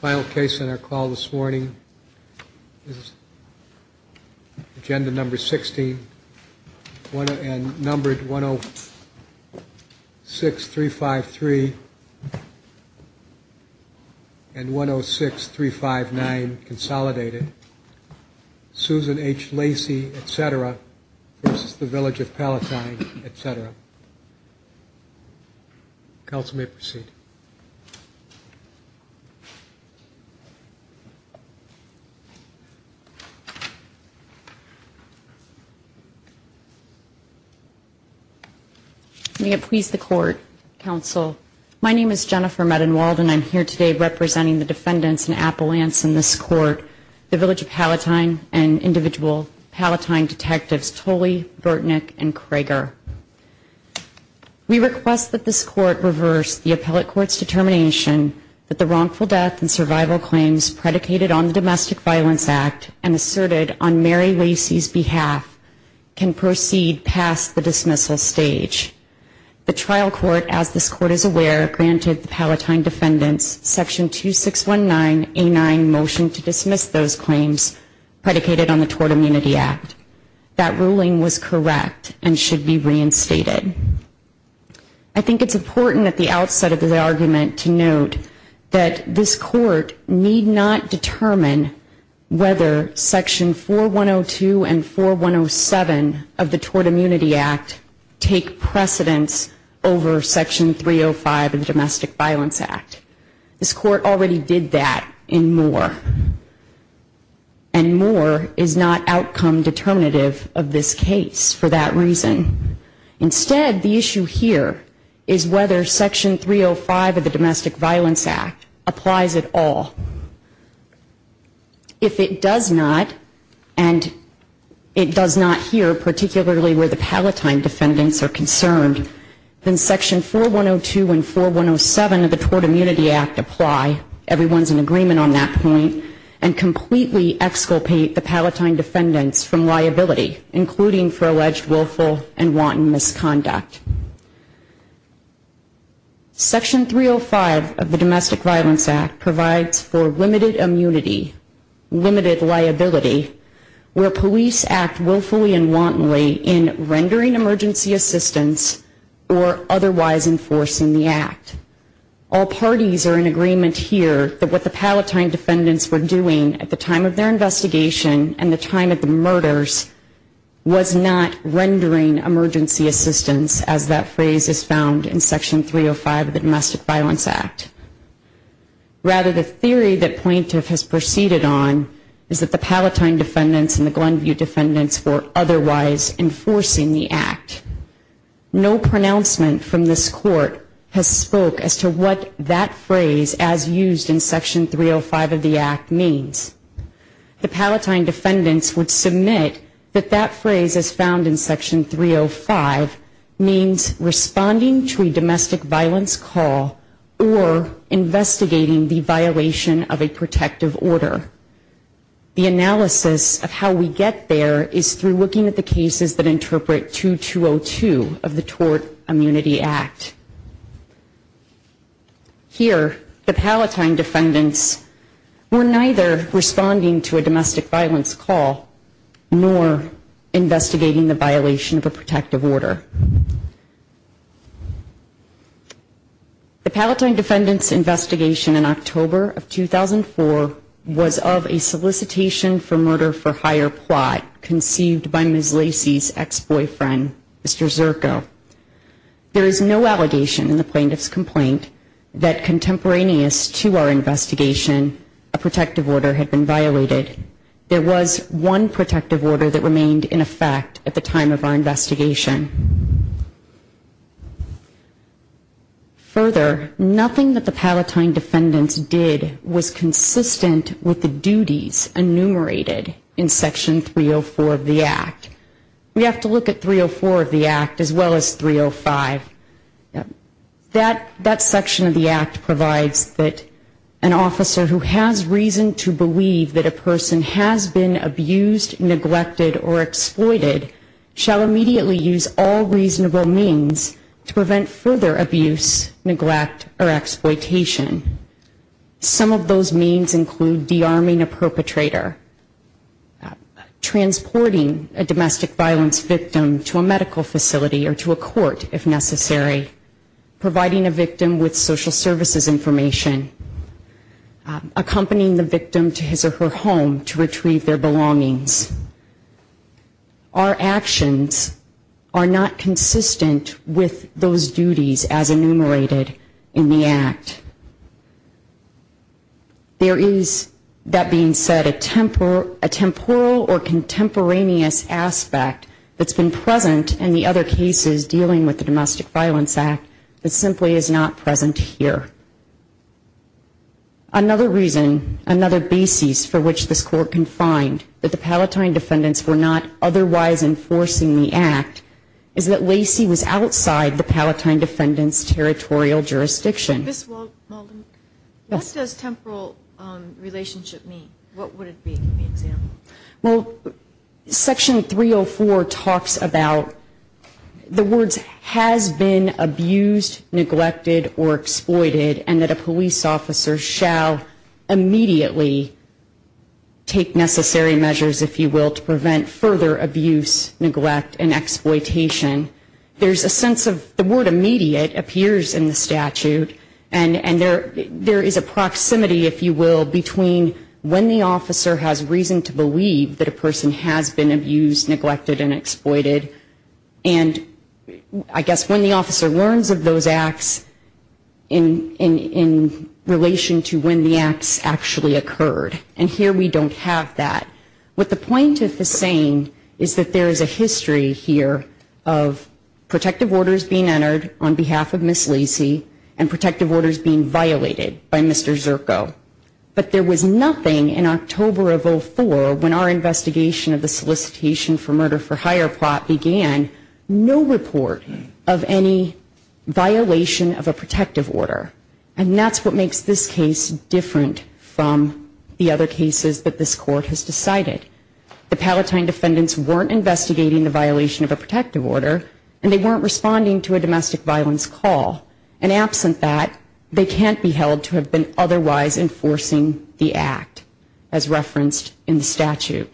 Final case on our call this morning is agenda number 16, numbered 106353 and 106359 Consolidated. Susan H. Lacey, et cetera, versus the Village of Palatine, et cetera. Counsel may proceed. May it please the Court, Counsel. My name is Jennifer Medenwald and I'm here today representing the defendants in appellants in this court. The Village of Palatine and individual Palatine detectives Tolley, Burtnick, and Cragar. We request that this court reverse the appellate court's determination that the wrongful death and survival claims predicated on the Domestic Violence Act and asserted on Mary Lacey's behalf can proceed past the dismissal stage. The trial court, as this court is aware, granted the Palatine defendants Section 2619A9 motion to dismiss those claims predicated on the Tort Immunity Act. That ruling was correct and should be reinstated. I think it's important at the outset of the argument to note that this court need not determine whether Section 4102 and 4107 of the Domestic Violence Act apply at all. If it does not, and it does not here, particularly where the Palatine defendants are concerned, it is not the case that this court Section 305 of the Domestic Violence Act provides for limited immunity, limited liability, where police act willfully and wantonly in rendering assistance or otherwise enforcing the act. All parties are in agreement here that what the Palatine defendants were doing at the time of their investigation and the time of the murders was not rendering emergency assistance as that phrase is found in Section 305 of the Domestic Violence Act. Rather, the theory that plaintiff has proceeded on is that the Palatine defendants and the Glenview defendants were otherwise enforcing the Domestic Violence Act. No pronouncement from this court has spoke as to what that phrase as used in Section 305 of the act means. The Palatine defendants would submit that that phrase as found in Section 305 means responding to a domestic violence call or investigating the violation of a protective order. The analysis of how we get there is through looking at the cases that interpret 2202 of the Tort Immunity Act. Here, the Palatine defendants were neither responding to a domestic violence call nor investigating the violation of a protective order. The Palatine defendants' investigation in October of 2004 was of a solicitation for murder for hire plot conceived by Ms. Lacy's ex-boyfriend, Mr. Zirko. There is no allegation in the plaintiff's complaint that contemporaneous to our investigation, a protective order had been violated. There was one protective order that remained in effect at the time of our investigation. Further, nothing that the Palatine defendants did was consistent with the duties enumerated in Section 304 of the act. We have to look at 304 of the act as well as 305. That section of the act provides that an officer who has reason to believe that a person has been abused, neglected, or exploited shall immediately use all reasonable means to prevent further abuse, neglect, or exploitation. Some of those means include de-arming a perpetrator, transporting a domestic violence victim to a medical facility or to a court, if necessary, providing a victim with social services information, accompanying the victim to his or her home to retrieve their belongings. Our actions are not consistent with those duties as enumerated in the act. There is, that being said, a temporal or contemporaneous aspect that's been present in the other cases dealing with the Domestic Violence Act that simply is not present here. Another reason, another basis for which this Court can find that the Palatine defendants were not otherwise enforcing the act is that Lacey was outside the Palatine defendants' territorial jurisdiction. What does temporal relationship mean? What would it be? Well, Section 304 talks about the words has been abused, neglected, or exploited and that a police officer shall immediately take necessary measures, if you will, to prevent further abuse, neglect, and exploitation. There's a sense of the word immediate appears in the statute and there is a proximity, if you will, between when the officer has reason to believe that a person has been abused, neglected, and exploited and I guess when the officer learns of those acts in relation to when the acts actually occurred. And here we don't have that. What the plaintiff is saying is that there is a history here of protective orders being entered on behalf of Ms. Lacey and protective orders being violated by Mr. Zirko. But there was nothing in October of 04 when our investigation of the solicitation for murder for hire plot began, no report of any violation of a protective order. And that's what makes this case different from the other cases that this Court has decided. The Palatine defendants weren't investigating the violation of a protective order and they weren't responding to a domestic violence call. And absent that, they can't be held to have been otherwise enforcing the act, as referenced in the statute.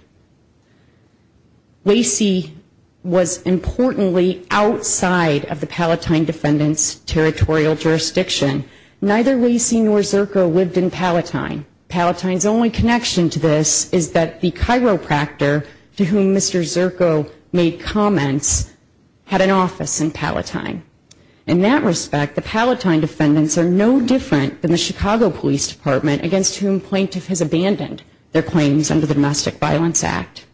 Lacey was importantly outside of the Palatine defendants' territorial jurisdiction. Neither Lacey nor Zirko lived in Palatine. Palatine's only connection to this is that the chiropractor to whom Mr. Zirko made comments had an office in Palatine. In that respect, the Palatine defendants are no different than the Chicago Police Department, against whom plaintiff has abandoned their claims under the Domestic Violence Act.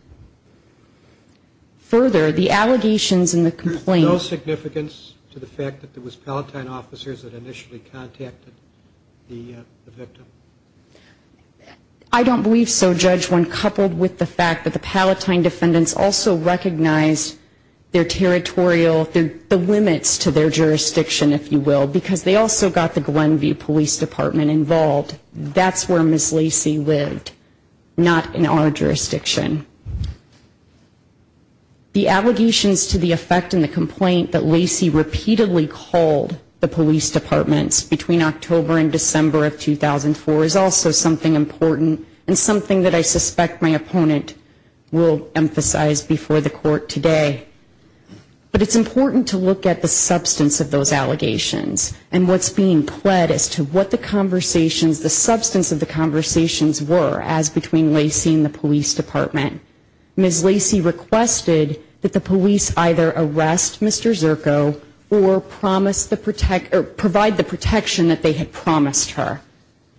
Further, the allegations in the complaint... Is there no significance to the fact that it was Palatine officers that initially contacted the victim? I don't believe so, Judge, when coupled with the fact that the Palatine defendants also recognized their territorial, the limits to their jurisdiction, if you will, because they also got the Glenview Police Department involved. That's where Ms. Lacey lived, not in our jurisdiction. The allegations to the effect in the complaint that Lacey repeatedly called the police departments between October and December of 2004 is also something important and something that I suspect my opponent will emphasize before the court today. But it's important to look at the substance of those allegations and what's being pled as to what the conversations, the substance of the conversations were as between Lacey and the police department. Ms. Lacey requested that the police either arrest Mr. Zirko or promise the protect, or provide the protection that they had promised her.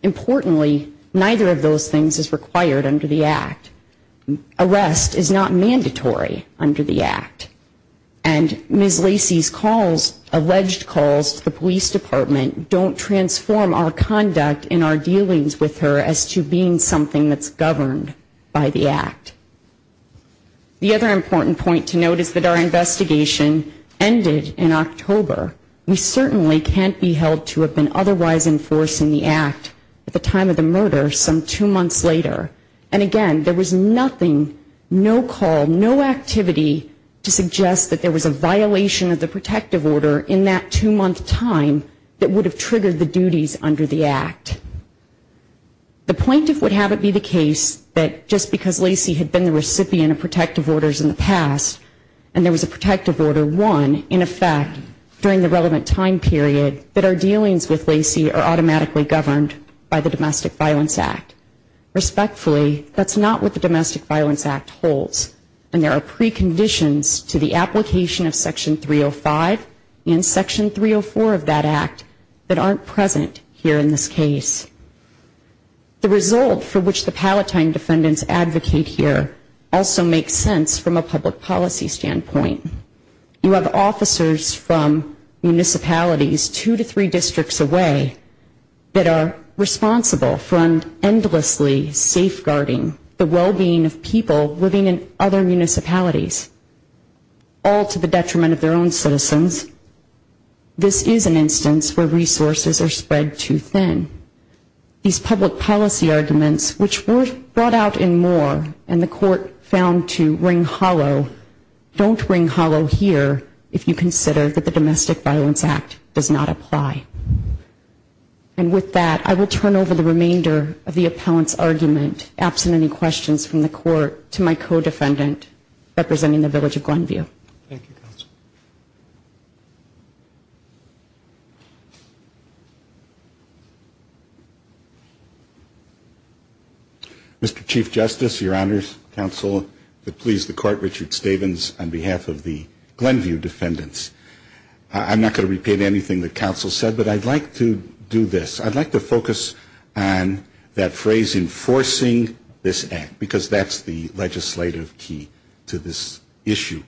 Importantly, neither of those things is required under the act. Arrest is not mandatory under the act. And Ms. Lacey's calls, alleged calls to the police department don't transform our conduct in our dealings with her as to being something that's governed by the act. The other important point to note is that our investigation ended in October. We certainly can't be held to have been otherwise enforcing the act at the time of the murder some two months later. And again, there was nothing, no call, no activity to suggest that there was a violation of the protective order in that two month time that would have triggered the duties under the act. The plaintiff would have it be the case that just because Lacey had been the recipient of protective orders in the past and there was a protective order won, in effect, during the relevant time period, that our dealings with Lacey are automatically governed by the Domestic Violence Act. Respectfully, that's not what the Domestic Violence Act holds, and there are preconditions to the application of Section 305 and Section 304 of that act that aren't present here in this case. The result for which the Palatine defendants advocate here also makes sense from a public policy standpoint. You have officers from municipalities two to three districts away that are responsible for endlessly safeguarding the well-being of people living in other municipalities, all to the detriment of their own citizens. This is an instance where resources are spread too thin. These public policy arguments, which were brought out in Moore and the court found to ring hollow, don't ring true. They don't ring hollow here if you consider that the Domestic Violence Act does not apply. And with that, I will turn over the remainder of the appellant's argument, absent any questions from the court, to my co-defendant representing the Village of Glenview. Thank you, counsel. Mr. Chief Justice, your honors, counsel, the pleas of the court, Richard Stavins, on behalf of the Glenview defendants. I'm not going to repeat anything that counsel said, but I'd like to do this. I'd like to focus on that phrase, enforcing this act, because that's the legislative key to this issue.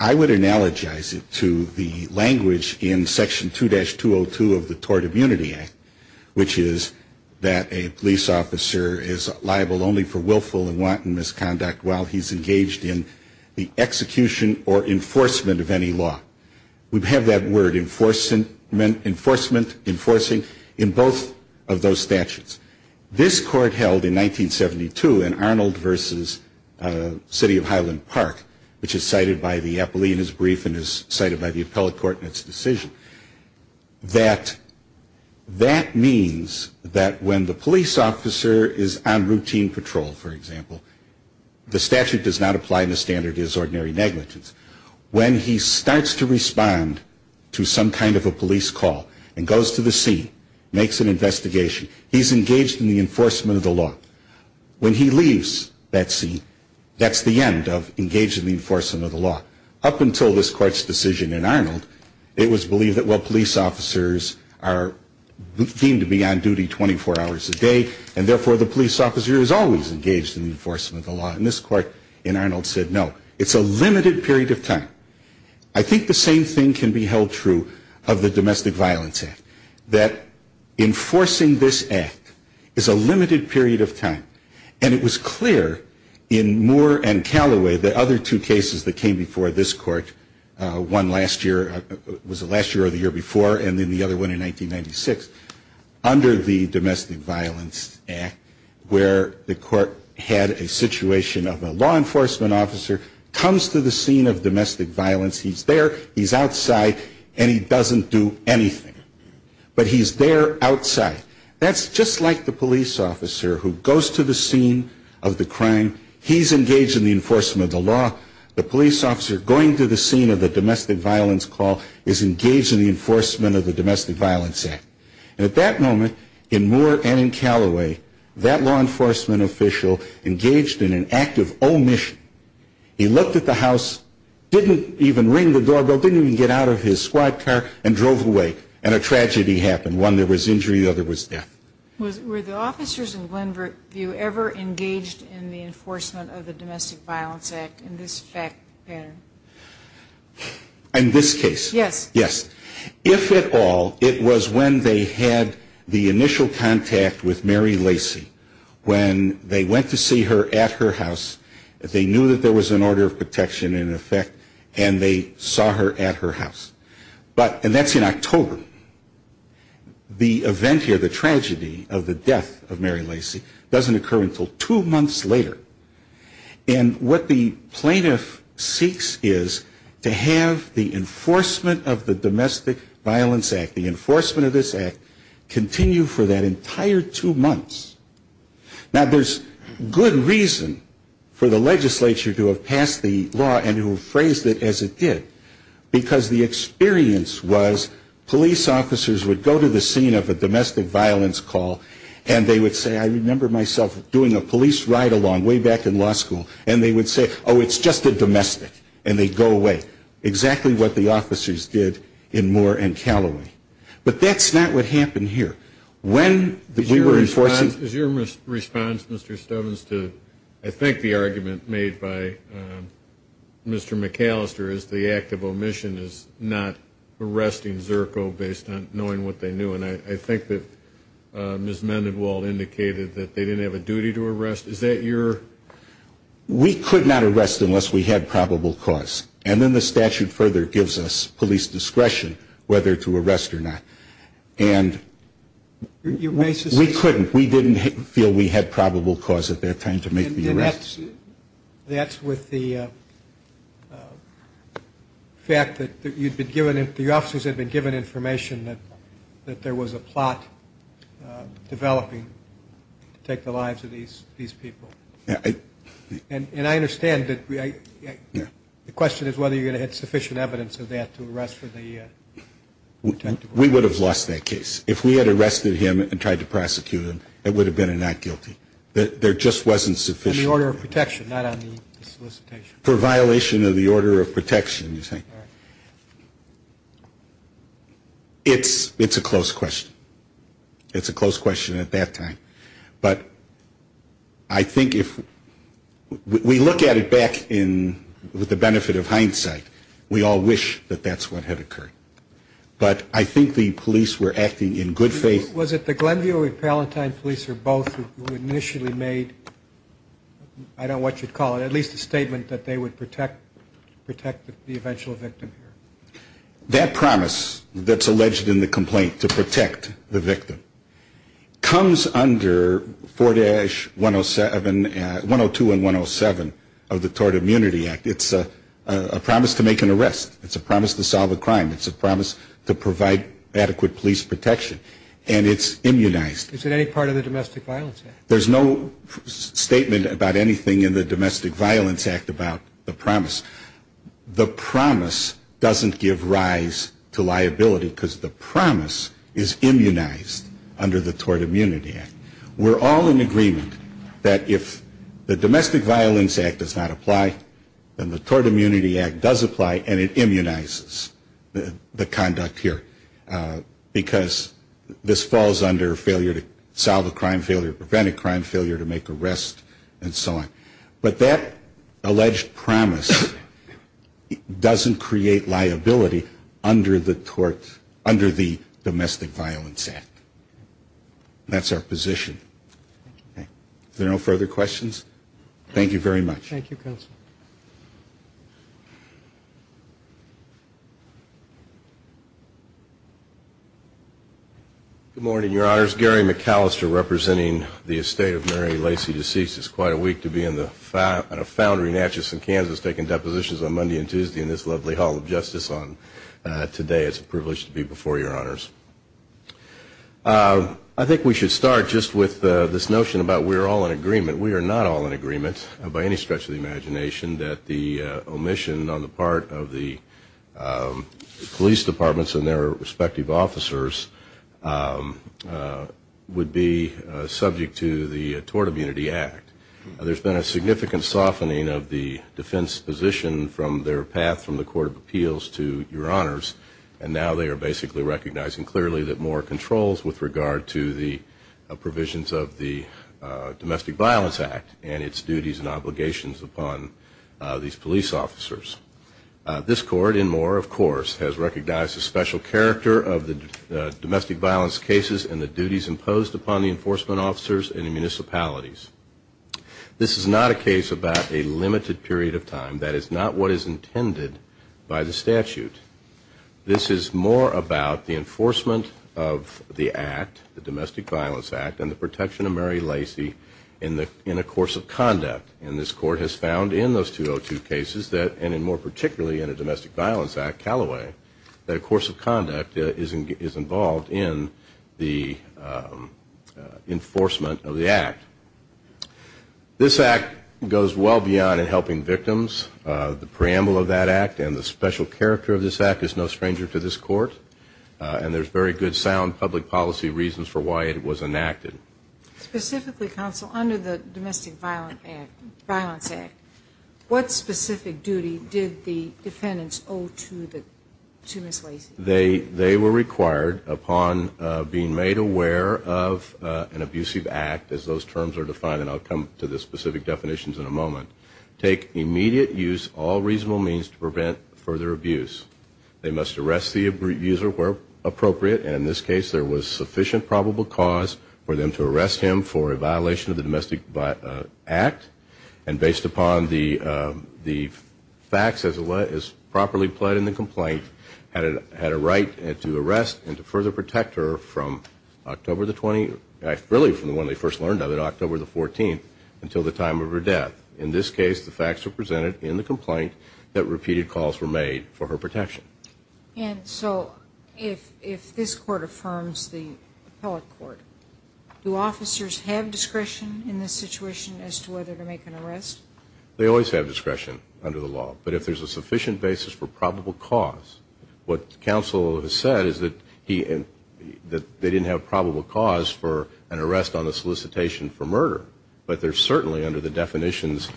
I would analogize it to the language in Section 2-202 of the Tort Immunity Act, which is that a police officer is liable only for willful and wanton misconduct while he's engaged in the execution or enforcement of any law. We have that word, enforcement, enforcing, in both of those statutes. This court held in 1972 in Arnold v. City of Highland Park, which is South Carolina. It's cited by the appellee in his brief and is cited by the appellate court in its decision, that that means that when the police officer is on routine patrol, for example, the statute does not apply the standard is ordinary negligence, when he starts to respond to some kind of a police call and goes to the scene, makes an investigation, he's engaged in the enforcement of the law. When he leaves that scene, that's the end of engaged in the enforcement of the law. Up until this court's decision in Arnold, it was believed that, well, police officers are deemed to be on duty 24 hours a day, and therefore the police officer is always engaged in the enforcement of the law, and this court in Arnold said no. It's a limited period of time. I think the same thing can be held true of the Domestic Violence Act, that enforcing this act is a limited period of time, and it was clear in Moore and Calloway, the other two cases that came before this court, one last year, was the last year or the year before, and then the other one in 1996, under the Domestic Violence Act, where the court had a situation of a law enforcement officer comes to the scene of domestic violence, he's there, he's outside, and he doesn't do anything, but he's there outside. That's just like the police officer who goes to the scene of the crime, he's engaged in the enforcement of the law, the police officer going to the scene of the domestic violence call is engaged in the enforcement of the Domestic Violence Act. And at that moment, in Moore and in Calloway, that law enforcement official engaged in an act of omission. He looked at the house, didn't even ring the doorbell, didn't even get out of his squad car, and drove away, and a tragedy happened, one there was injury, the other was death. Were the officers in Glenbrook, were you ever engaged in the enforcement of the Domestic Violence Act in this fact? In this case? Yes. If at all, it was when they had the initial contact with Mary Lacy, when they went to see her at her house, they knew that there was an order of protection in effect, and they saw her at her house. But, and that's in October, the event here, the tragedy of the death of Mary Lacy, doesn't occur until two months later. And what the plaintiff seeks is to have the enforcement of the Domestic Violence Act, and the police officer of the Domestic Violence Act, the enforcement of this act, continue for that entire two months. Now, there's good reason for the legislature to have passed the law and to have phrased it as it did, because the experience was police officers would go to the scene of a domestic violence call, and they would say, I remember myself doing a police ride along way back in law school, and they would say, oh, it's just a domestic, and they'd go away, exactly what the officers did in Moore and Calloway. But that's not what happened here. When we were enforcing... Is your response, Mr. Stubbins, to I think the argument made by Mr. McAllister is the act of omission is not arresting Zerko based on knowing what they knew, and I think that Ms. Mendenwall indicated that they didn't have a duty to arrest, is that your... We could not arrest unless we had probable cause, and then the statute further gives us police discretion whether to arrest or not. And we couldn't, we didn't feel we had probable cause at that time to make the arrests. That's with the fact that the officers had been given information that there was a plot developing to take the lives of these people. And I understand that the question is whether you're going to have sufficient evidence of that to arrest for the... We would have lost that case. If we had arrested him and tried to prosecute him, it would have been a not guilty. There just wasn't sufficient... And the order of protection, not on the solicitation. For violation of the order of protection, you say. It's a close question. It's a close question at that time, but I think if we look at it back with the benefit of hindsight, we all wish that that's what had occurred. But I think the police were acting in good faith... Was it the Glenview or Palentine police or both who initially made, I don't know what you'd call it, at least a statement that they would protect the eventual victim? That promise that's alleged in the complaint to protect the victim comes under 4-107, 102 and 107 of the Tort Immunity Act. It's a promise to make an arrest. It's a promise to solve a crime. It's a promise to provide adequate police protection, and it's immunized. Is it any part of the Domestic Violence Act? There's no statement about anything in the Domestic Violence Act about the promise. The promise doesn't give rise to liability, because the promise is immunized under the Tort Immunity Act. We're all in agreement that if the Domestic Violence Act does not apply, then the Tort Immunity Act does apply, and it immunizes the conduct here, because this falls under failure to solve a crime, failure to prevent a crime, failure to make arrests, and so on. But that alleged promise doesn't create liability under the Domestic Violence Act. That's our position. Are there no further questions? Thank you very much. Good morning, Your Honors. Gary McAllister, representing the estate of Mary Lacy DeCease. It's quite a week to be in a foundry in Atchison, Kansas, taking depositions on Monday and Tuesday in this lovely Hall of Justice. Today it's a privilege to be before Your Honors. I think we should start just with this notion about we're all in agreement. We are not all in agreement, by any stretch of the imagination, that the omission on the part of the police departments and their respective officers would be subject to the Tort Immunity Act. There's been a significant softening of the defense position from their path from the Court of Appeals to the Domestic Violence Act. And now they are basically recognizing clearly that Moore controls with regard to the provisions of the Domestic Violence Act and its duties and obligations upon these police officers. This Court, in Moore, of course, has recognized the special character of the domestic violence cases and the duties imposed upon the enforcement officers and the municipalities. This is not a case about a limited period of time. This is more about the enforcement of the act, the Domestic Violence Act, and the protection of Mary Lacy in a course of conduct. And this Court has found in those 202 cases, and more particularly in the Domestic Violence Act, Callaway, that a course of conduct is involved in the enforcement of the act. This act goes well beyond helping victims. This act is no stranger to this Court, and there's very good, sound public policy reasons for why it was enacted. Specifically, Counsel, under the Domestic Violence Act, what specific duty did the defendants owe to Ms. Lacy? They were required, upon being made aware of an abusive act, as those terms are defined, and I'll come to the specific definitions in a moment, take immediate use of all reasonable means to prevent further abuse. They must arrest the abuser where appropriate, and in this case, there was sufficient probable cause for them to arrest him for a violation of the Domestic Violence Act. And based upon the facts as properly pled in the complaint, had a right to arrest and to further protect her from October the 20th, really from the one they first learned of it, October the 14th, until the time of her death. In this case, the facts are presented in the complaint that repeated calls were made for her protection. And so, if this Court affirms the appellate court, do officers have discretion in this situation as to whether to make an arrest? They always have discretion under the law, but if there's a sufficient basis for probable cause, what Counsel has said is that they didn't have probable cause for an arrest on the solicitation for murder, but they're certainly under the definitions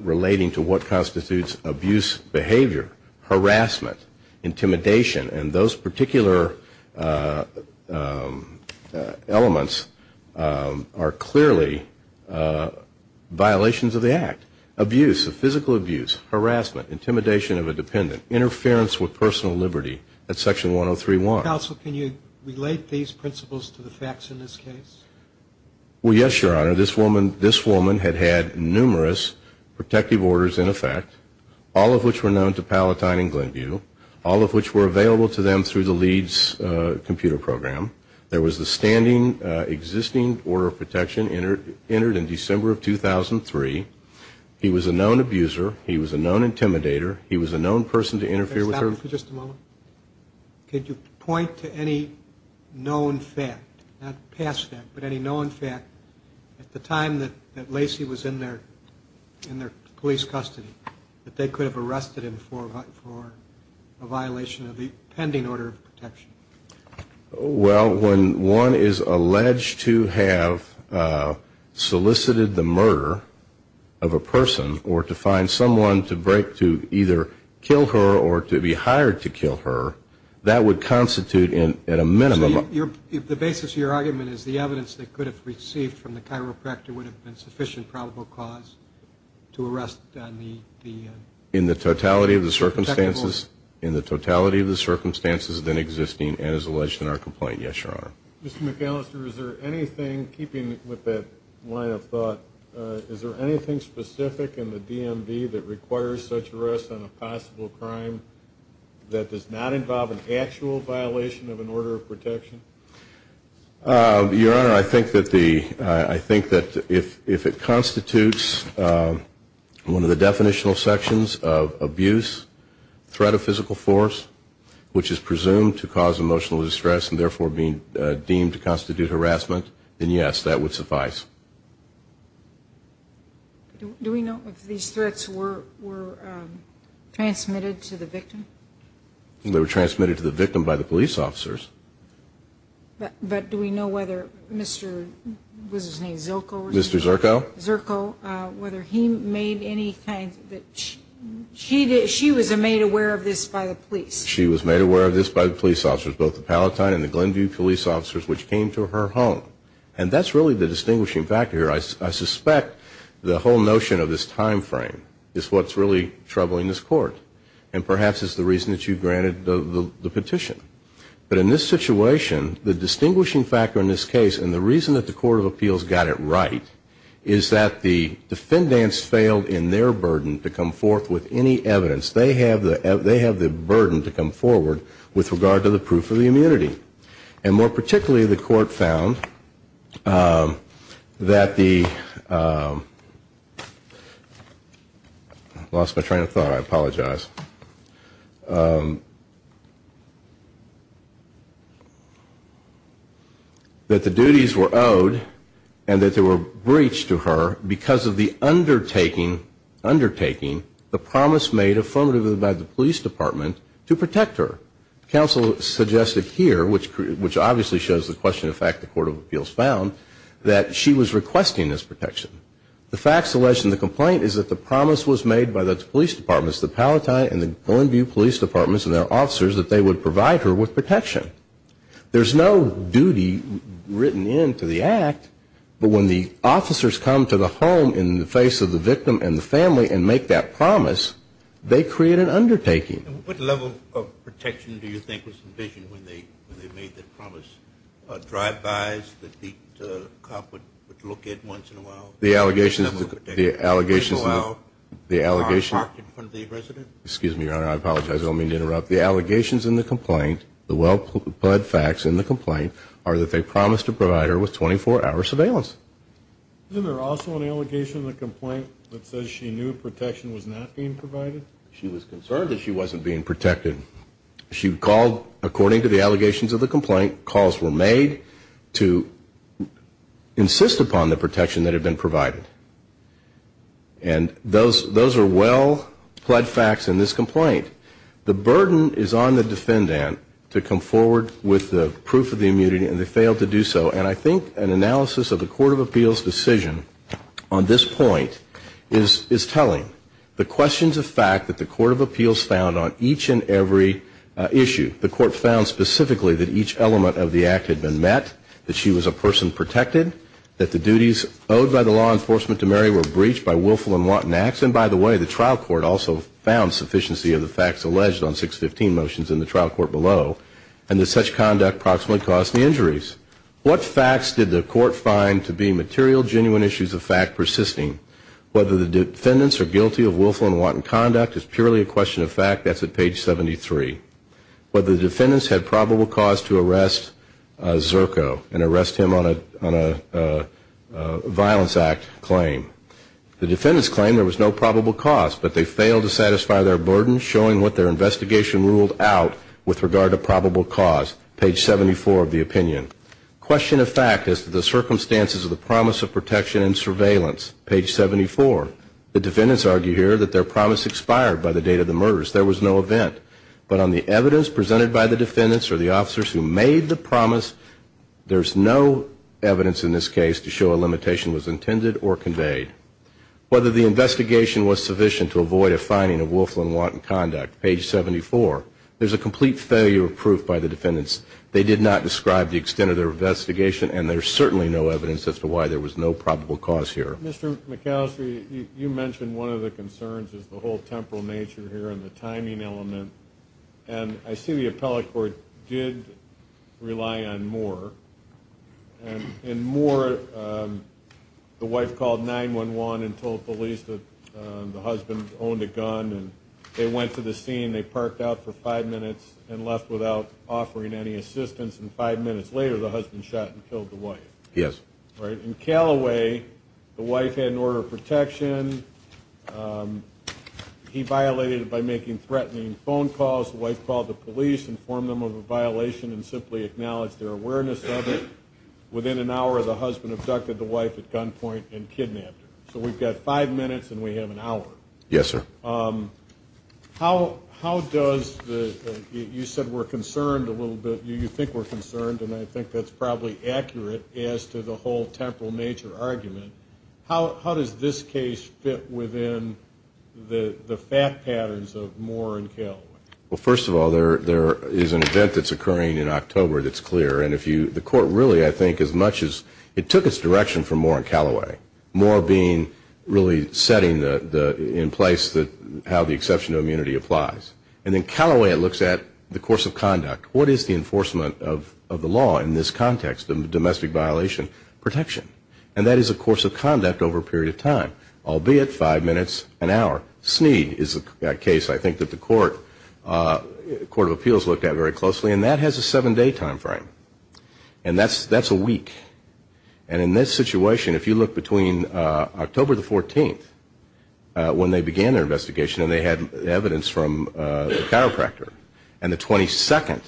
relating to what constitutes abuse behavior, harassment, intimidation, and those particular elements are clearly violations of the act. Abuse, physical abuse, harassment, intimidation of a dependent, interference with personal liberty, that's section 103.1. Counsel, can you relate these principles to the facts in this case? Well, yes, Your Honor, this woman had had numerous protective orders in effect, all of which were known to Palatine and Glynview, all of which were available to them through the Leeds computer program. There was a standing existing order of protection entered in December of 2003. He was a known abuser, he was a known intimidator, he was a known person to interfere with her. Could you point to any known fact, not past fact, but any known fact at the time that Lacey was in their police custody that they could have arrested him for a violation of the pending order of protection? Well, when one is alleged to have solicited the murder of a person or to find someone to either kill her or to be hired to do the murder of a person, that's a different case. If the person was hired to kill her, that would constitute at a minimum... So the basis of your argument is the evidence that could have received from the chiropractor would have been sufficient probable cause to arrest on the... In the totality of the circumstances, in the totality of the circumstances then existing and as alleged in our complaint, yes, Your Honor. Mr. McAllister, is there anything, keeping with that line of thought, is there anything specific in the DMV that requires such arrest on a possible crime? That does not involve an actual violation of an order of protection? Your Honor, I think that the, I think that if it constitutes one of the definitional sections of abuse, threat of physical force, which is presumed to cause emotional distress and therefore deemed to constitute harassment, then yes, that would suffice. Do we know if these threats were transmitted to the victim? They were transmitted to the victim by the police officers. But do we know whether Mr., what was his name, Zirko? Mr. Zirko. Zirko, whether he made any kind, she was made aware of this by the police? She was made aware of this by the police officers, both the Palatine and the Glenview police officers, which came to her home. And that's really the distinguishing factor here. I suspect the whole notion of this time frame is what's really troubling this Court. And perhaps it's the reason that you granted the petition. But in this situation, the distinguishing factor in this case, and the reason that the Court of Appeals got it right, is that the defendants failed in their burden to come forth with any evidence. They have the burden to come forward with regard to the proof of the immunity. And more particularly, the Court found that the, lost my train of thought, I apologize, that the duties were owed and that they were breached to her because of the undertaking, undertaking, the promise made affirmative by the police department to protect her. Counsel suggested here, which obviously shows the question of fact the Court of Appeals found, that she was requesting this protection. The facts alleged in the complaint is that the promise was made by the police departments, the Palatine and the Glenview police departments and their officers, that they would provide her with protection. There's no duty written into the act, but when the officers come to the home in the face of the victim and the family and make that promise, they create an undertaking. What level of protection do you think was envisioned when they made that promise? Drive-bys that the cop would look at once in a while? The allegations in the complaint, the well-pled facts in the complaint, are that they promised to provide her with 24-hour surveillance. Isn't there also an allegation in the complaint that says she knew protection was not being provided? She was concerned that she wasn't being protected. She called, according to the allegations of the complaint, calls were made to insist upon the protection that had been provided. And those, those are well-pled facts in this complaint. The burden is on the defendant to come forward with the proof of the immunity and they failed to do so. And I think an analysis of the Court of Appeals' decision on this point is telling. The questions of fact that the Court of Appeals found on each and every issue, the Court found specifically that each element of the act had been met, that she was a person protected, that the duties owed by the law enforcement to Mary were breached by willful and wanton acts, and by the way, the trial court also found sufficiency of the facts alleged on 615 motions in the trial court below, and that such conduct proximately caused the injuries. What facts did the court find to be material, genuine issues of fact persisting? Whether the defendants are guilty of willful and wanton conduct is purely a question of fact. That's at page 73. Whether the defendants had probable cause to arrest Zerko and arrest him on a violence act claim. The defendants claim there was no probable cause, but they failed to satisfy their burden, showing what their investigation ruled out with regard to probable cause, page 74 of the opinion. Question of fact as to the circumstances of the promise of protection and surveillance, page 74. The defendants argue here that their promise expired by the date of the murders. There was no event, but on the evidence presented by the defendants or the officers who made the promise, there's no evidence in this case to show a limitation was intended or conveyed. Whether the investigation was sufficient to avoid a finding of willful and wanton conduct, page 74, there's a complete failure of proof by the defendants. They did not describe the extent of their investigation, and there's certainly no evidence as to why there was no probable cause here. Mr. McAllister, you mentioned one of the concerns is the whole temporal nature here and the timing element, and I see the appellate court did rely on Moore. In Moore, the wife called 911 and told police that the husband owned a gun, and they went to the scene, they parked out for five minutes and left without offering any assistance, and five minutes later, the husband shot and killed the wife. Yes. Right? In Callaway, the wife had an order of protection. He violated it by making threatening phone calls. The wife called the police, informed them of a violation, and simply acknowledged their awareness of it. Within an hour, the husband abducted the wife at gunpoint and kidnapped her. So we've got five minutes, and we have an hour. Yes, sir. How does the, you said we're concerned a little bit, you think we're concerned, and I think that's probably accurate as to the whole temporal nature argument. How does this case fit within the fact patterns of Moore and Callaway? Well, first of all, there is an event that's occurring in October that's clear, and the court really, I think, as much as it took its direction from Moore and Callaway, Moore being really setting in place how the exception to immunity applies, and then Callaway, it looks at the course of conduct. What is the enforcement of the law in this context of domestic violation protection? And that is a course of conduct over a period of time, albeit five minutes, an hour. Sneed is a case I think that the Court of Appeals looked at very closely, and that has a seven-day time frame, and that's a week. And in this situation, if you look between October the 14th, when they began their investigation, and they had evidence from the chiropractor, and the 22nd,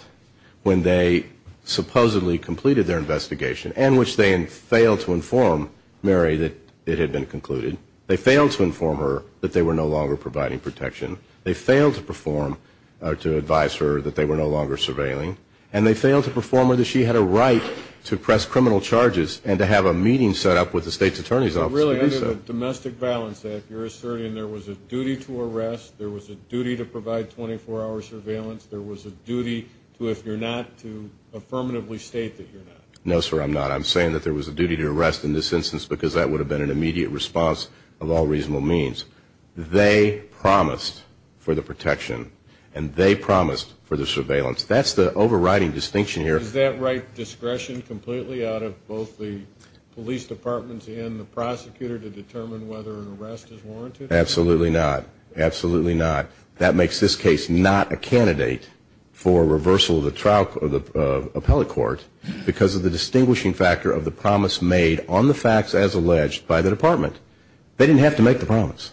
when they supposedly completed their investigation, and which they failed to inform Mary that it had been concluded, they failed to inform her that they were no longer providing protection, they failed to advise her that they were no longer surveilling, and they failed to inform her that she had a right to press criminal charges and to have a meeting set up with the state's attorney's office. So really under the domestic violence act, you're asserting there was a duty to arrest, there was a duty to provide 24-hour surveillance, there was a duty to, if you're not, to affirmatively state that you're not. No, sir, I'm not. I'm saying that there was a duty to arrest in this instance because that would have been an immediate response of all reasonable means. They promised for the protection, and they promised for the surveillance. That's the overriding distinction here. Is that right discretion completely out of both the police departments and the prosecutor to determine whether an arrest is warranted? Absolutely not. Absolutely not. That makes this case not a candidate for reversal of the appellate court because of the distinguishing factor of the promise made on the facts as alleged by the department. They didn't have to make the promise.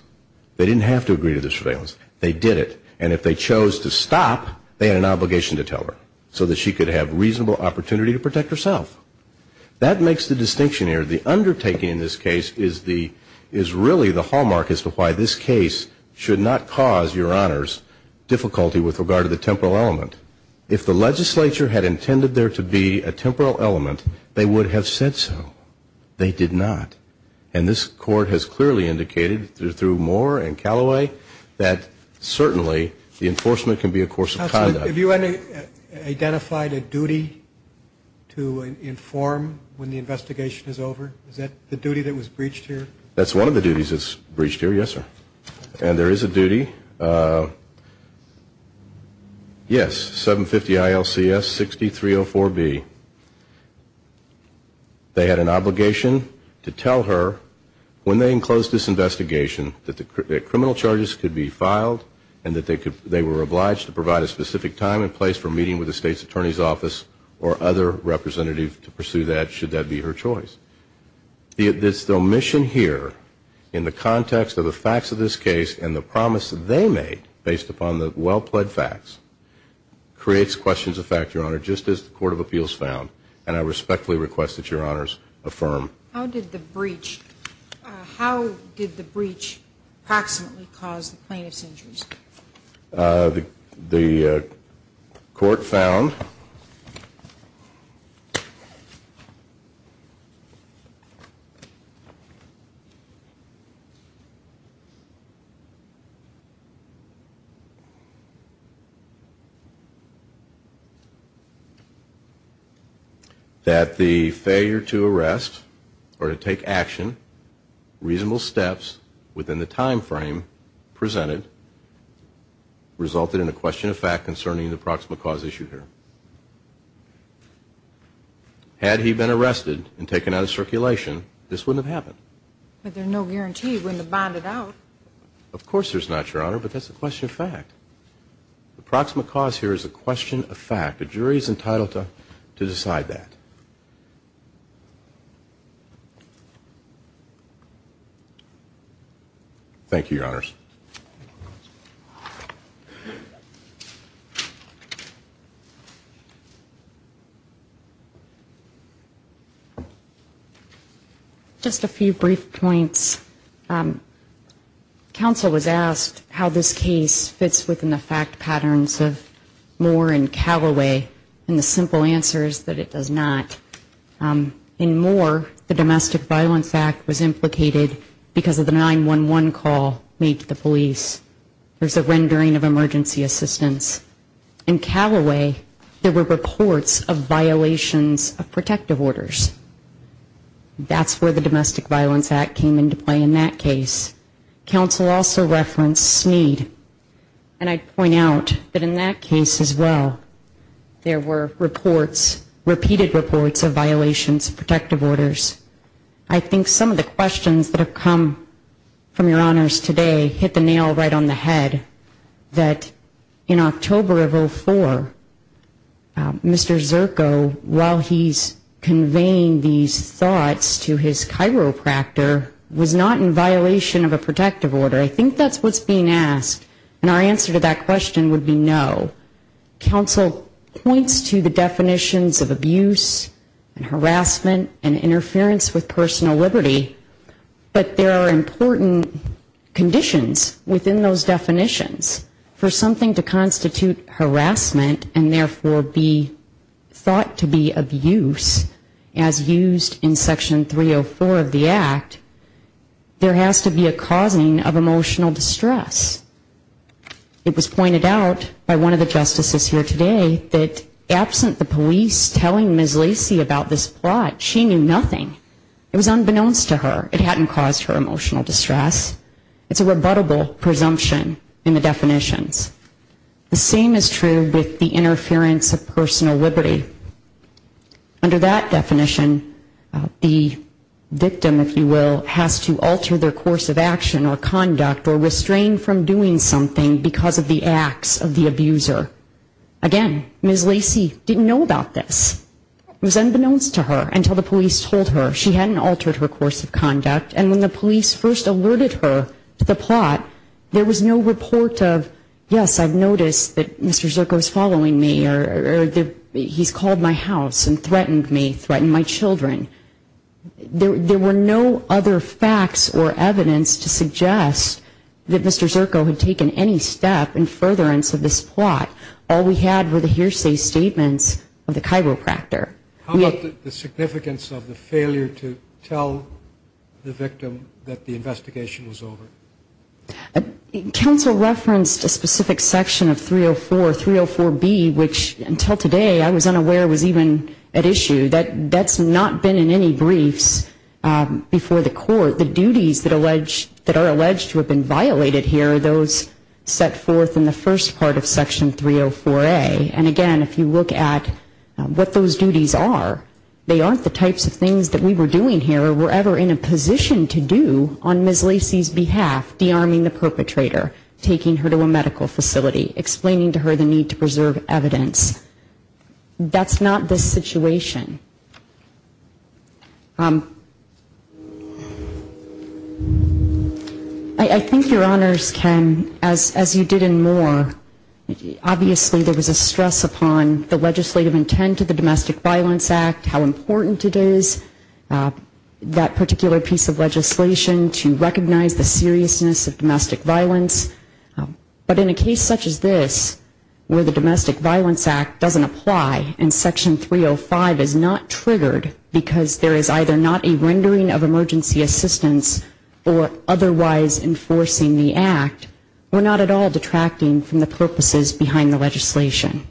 They didn't have to agree to the surveillance. They did it. And if they chose to stop, they had an obligation to tell her so that she could have reasonable opportunity to protect herself. That makes the distinction here. The undertaking in this case is really the hallmark as to why this case should not cause, Your Honors, difficulty with regard to the temporal element. If the legislature had intended there to be a temporal element, they would have said so. They did not. And this court has clearly indicated through Moore and Callaway that certainly the enforcement can be a course of conduct. Have you identified a duty to inform when the investigation is over? Is that the duty that was breached here? That's one of the duties that was breached here, yes, sir. And there is a duty. Yes, 750 ILCS 6304B. They had an obligation to tell her when they enclosed this investigation that criminal charges could be filed and that they were obliged to provide a specific time and place for meeting with the state's attorney's office or other representative to pursue that should that be her choice. The omission here in the context of the facts of this case and the promise that they made based upon the well-plaid facts creates questions of fact, Your Honor, just as the Court of Appeals found. And I respectfully request that Your Honors affirm. How did the breach approximately cause the plaintiff's injuries? The court found that the failure to arrest or to take action, reasonable steps within the time frame presented resulted in a question of fact concerning the proximate cause issued here. Had he been arrested and taken out of circulation, this wouldn't have happened. But there's no guarantee he wouldn't have bonded out. Of course there's not, Your Honor, but that's a question of fact. The jury's entitled to decide that. Thank you, Your Honors. Just a few brief points. Counsel was asked how this case fits within the fact patterns of Moore and Calloway and the simple answer is that it does not. In Moore, the Domestic Violence Act was implicated because of the 911 call made to the police. There's a rendering of emergency assistance. In Calloway, there were reports of violations of protective orders. That's where the Domestic Violence Act came into play in that case. Counsel also referenced Sneed, and I'd point out that in that case as well, there were reports, repeated reports of violations of protective orders. I think some of the questions that have come from Your Honors today hit the nail right on the head, that in October of 04, Mr. Zirko, while he's conveying these thoughts to his chiropractor, was not in violation of a protective order. I think that's what's being asked, and our answer to that question would be no. Counsel points to the definitions of abuse and harassment and interference with personal liberty, but there are important conditions within those definitions for something to constitute harassment and therefore be thought to be abuse, as used in Section 304 of the Act, there has to be a causing of emotional distress. It was pointed out by one of the justices here today that absent the police telling Ms. Lacy about this plot, she knew nothing. It was unbeknownst to her. It hadn't caused her emotional distress. It's a rebuttable presumption in the definitions. The same is true with the interference of personal liberty. Under that definition, the victim, if you will, has to alter their course of action or conduct or restrain from doing something because of the acts of the abuser. Again, Ms. Lacy didn't know about this. It was unbeknownst to her until the police told her. She hadn't altered her course of conduct, and when the police first alerted her to the plot, there was no report of, yes, I've noticed that Mr. Zirko's following me or he's called my house and threatened me, threatened my children. There were no other facts or evidence to suggest that Mr. Zirko had taken any step in furtherance of this plot. All we had were the hearsay statements of the chiropractor. How about the significance of the failure to tell the victim that the investigation was over? Counsel referenced a specific section of 304, 304B, which until today I was unaware was even at issue. That's not been in any briefs before the court. The duties that are alleged to have been violated here are those set forth in the first part of Section 304A. And again, if you look at what those duties are, they aren't the types of things that we were doing here or were ever in a position to do on Ms. Lacy's behalf, dearming the perpetrator, taking her to a medical facility, explaining to her the need to preserve evidence. That's not this situation. I think Your Honors can, as you did in Moore, obviously there was a stress upon the legislative intent of the Domestic Violence Act, how important it is, that particular piece of legislation to recognize the seriousness of domestic violence. But in a case such as this, where the Domestic Violence Act doesn't apply and Section 305 is not triggered because there is either not a rendering of emergency assistance or otherwise enforcing the act, we're not at all detracting from the purposes behind the legislation.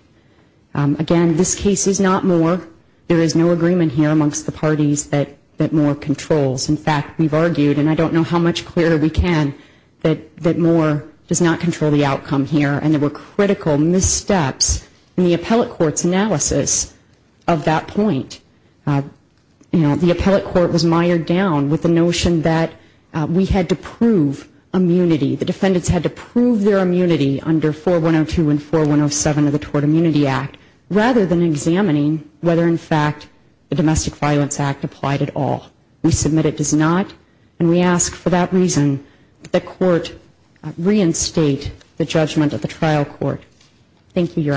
Again, this case is not Moore. There is no agreement here amongst the parties that Moore controls. In fact, we've argued, and I don't know how much clearer we can, that Moore does not control the outcome here. And there were critical missteps in the appellate court's analysis of that point. The appellate court was mired down with the notion that we had to prove immunity, the defendants had to prove their immunity under 4102 and 4107 of the Tort Immunity Act, rather than examining whether in fact the Domestic Violence Act does not. And we ask for that reason that court reinstate the judgment of the trial court. Thank you, Your Honors.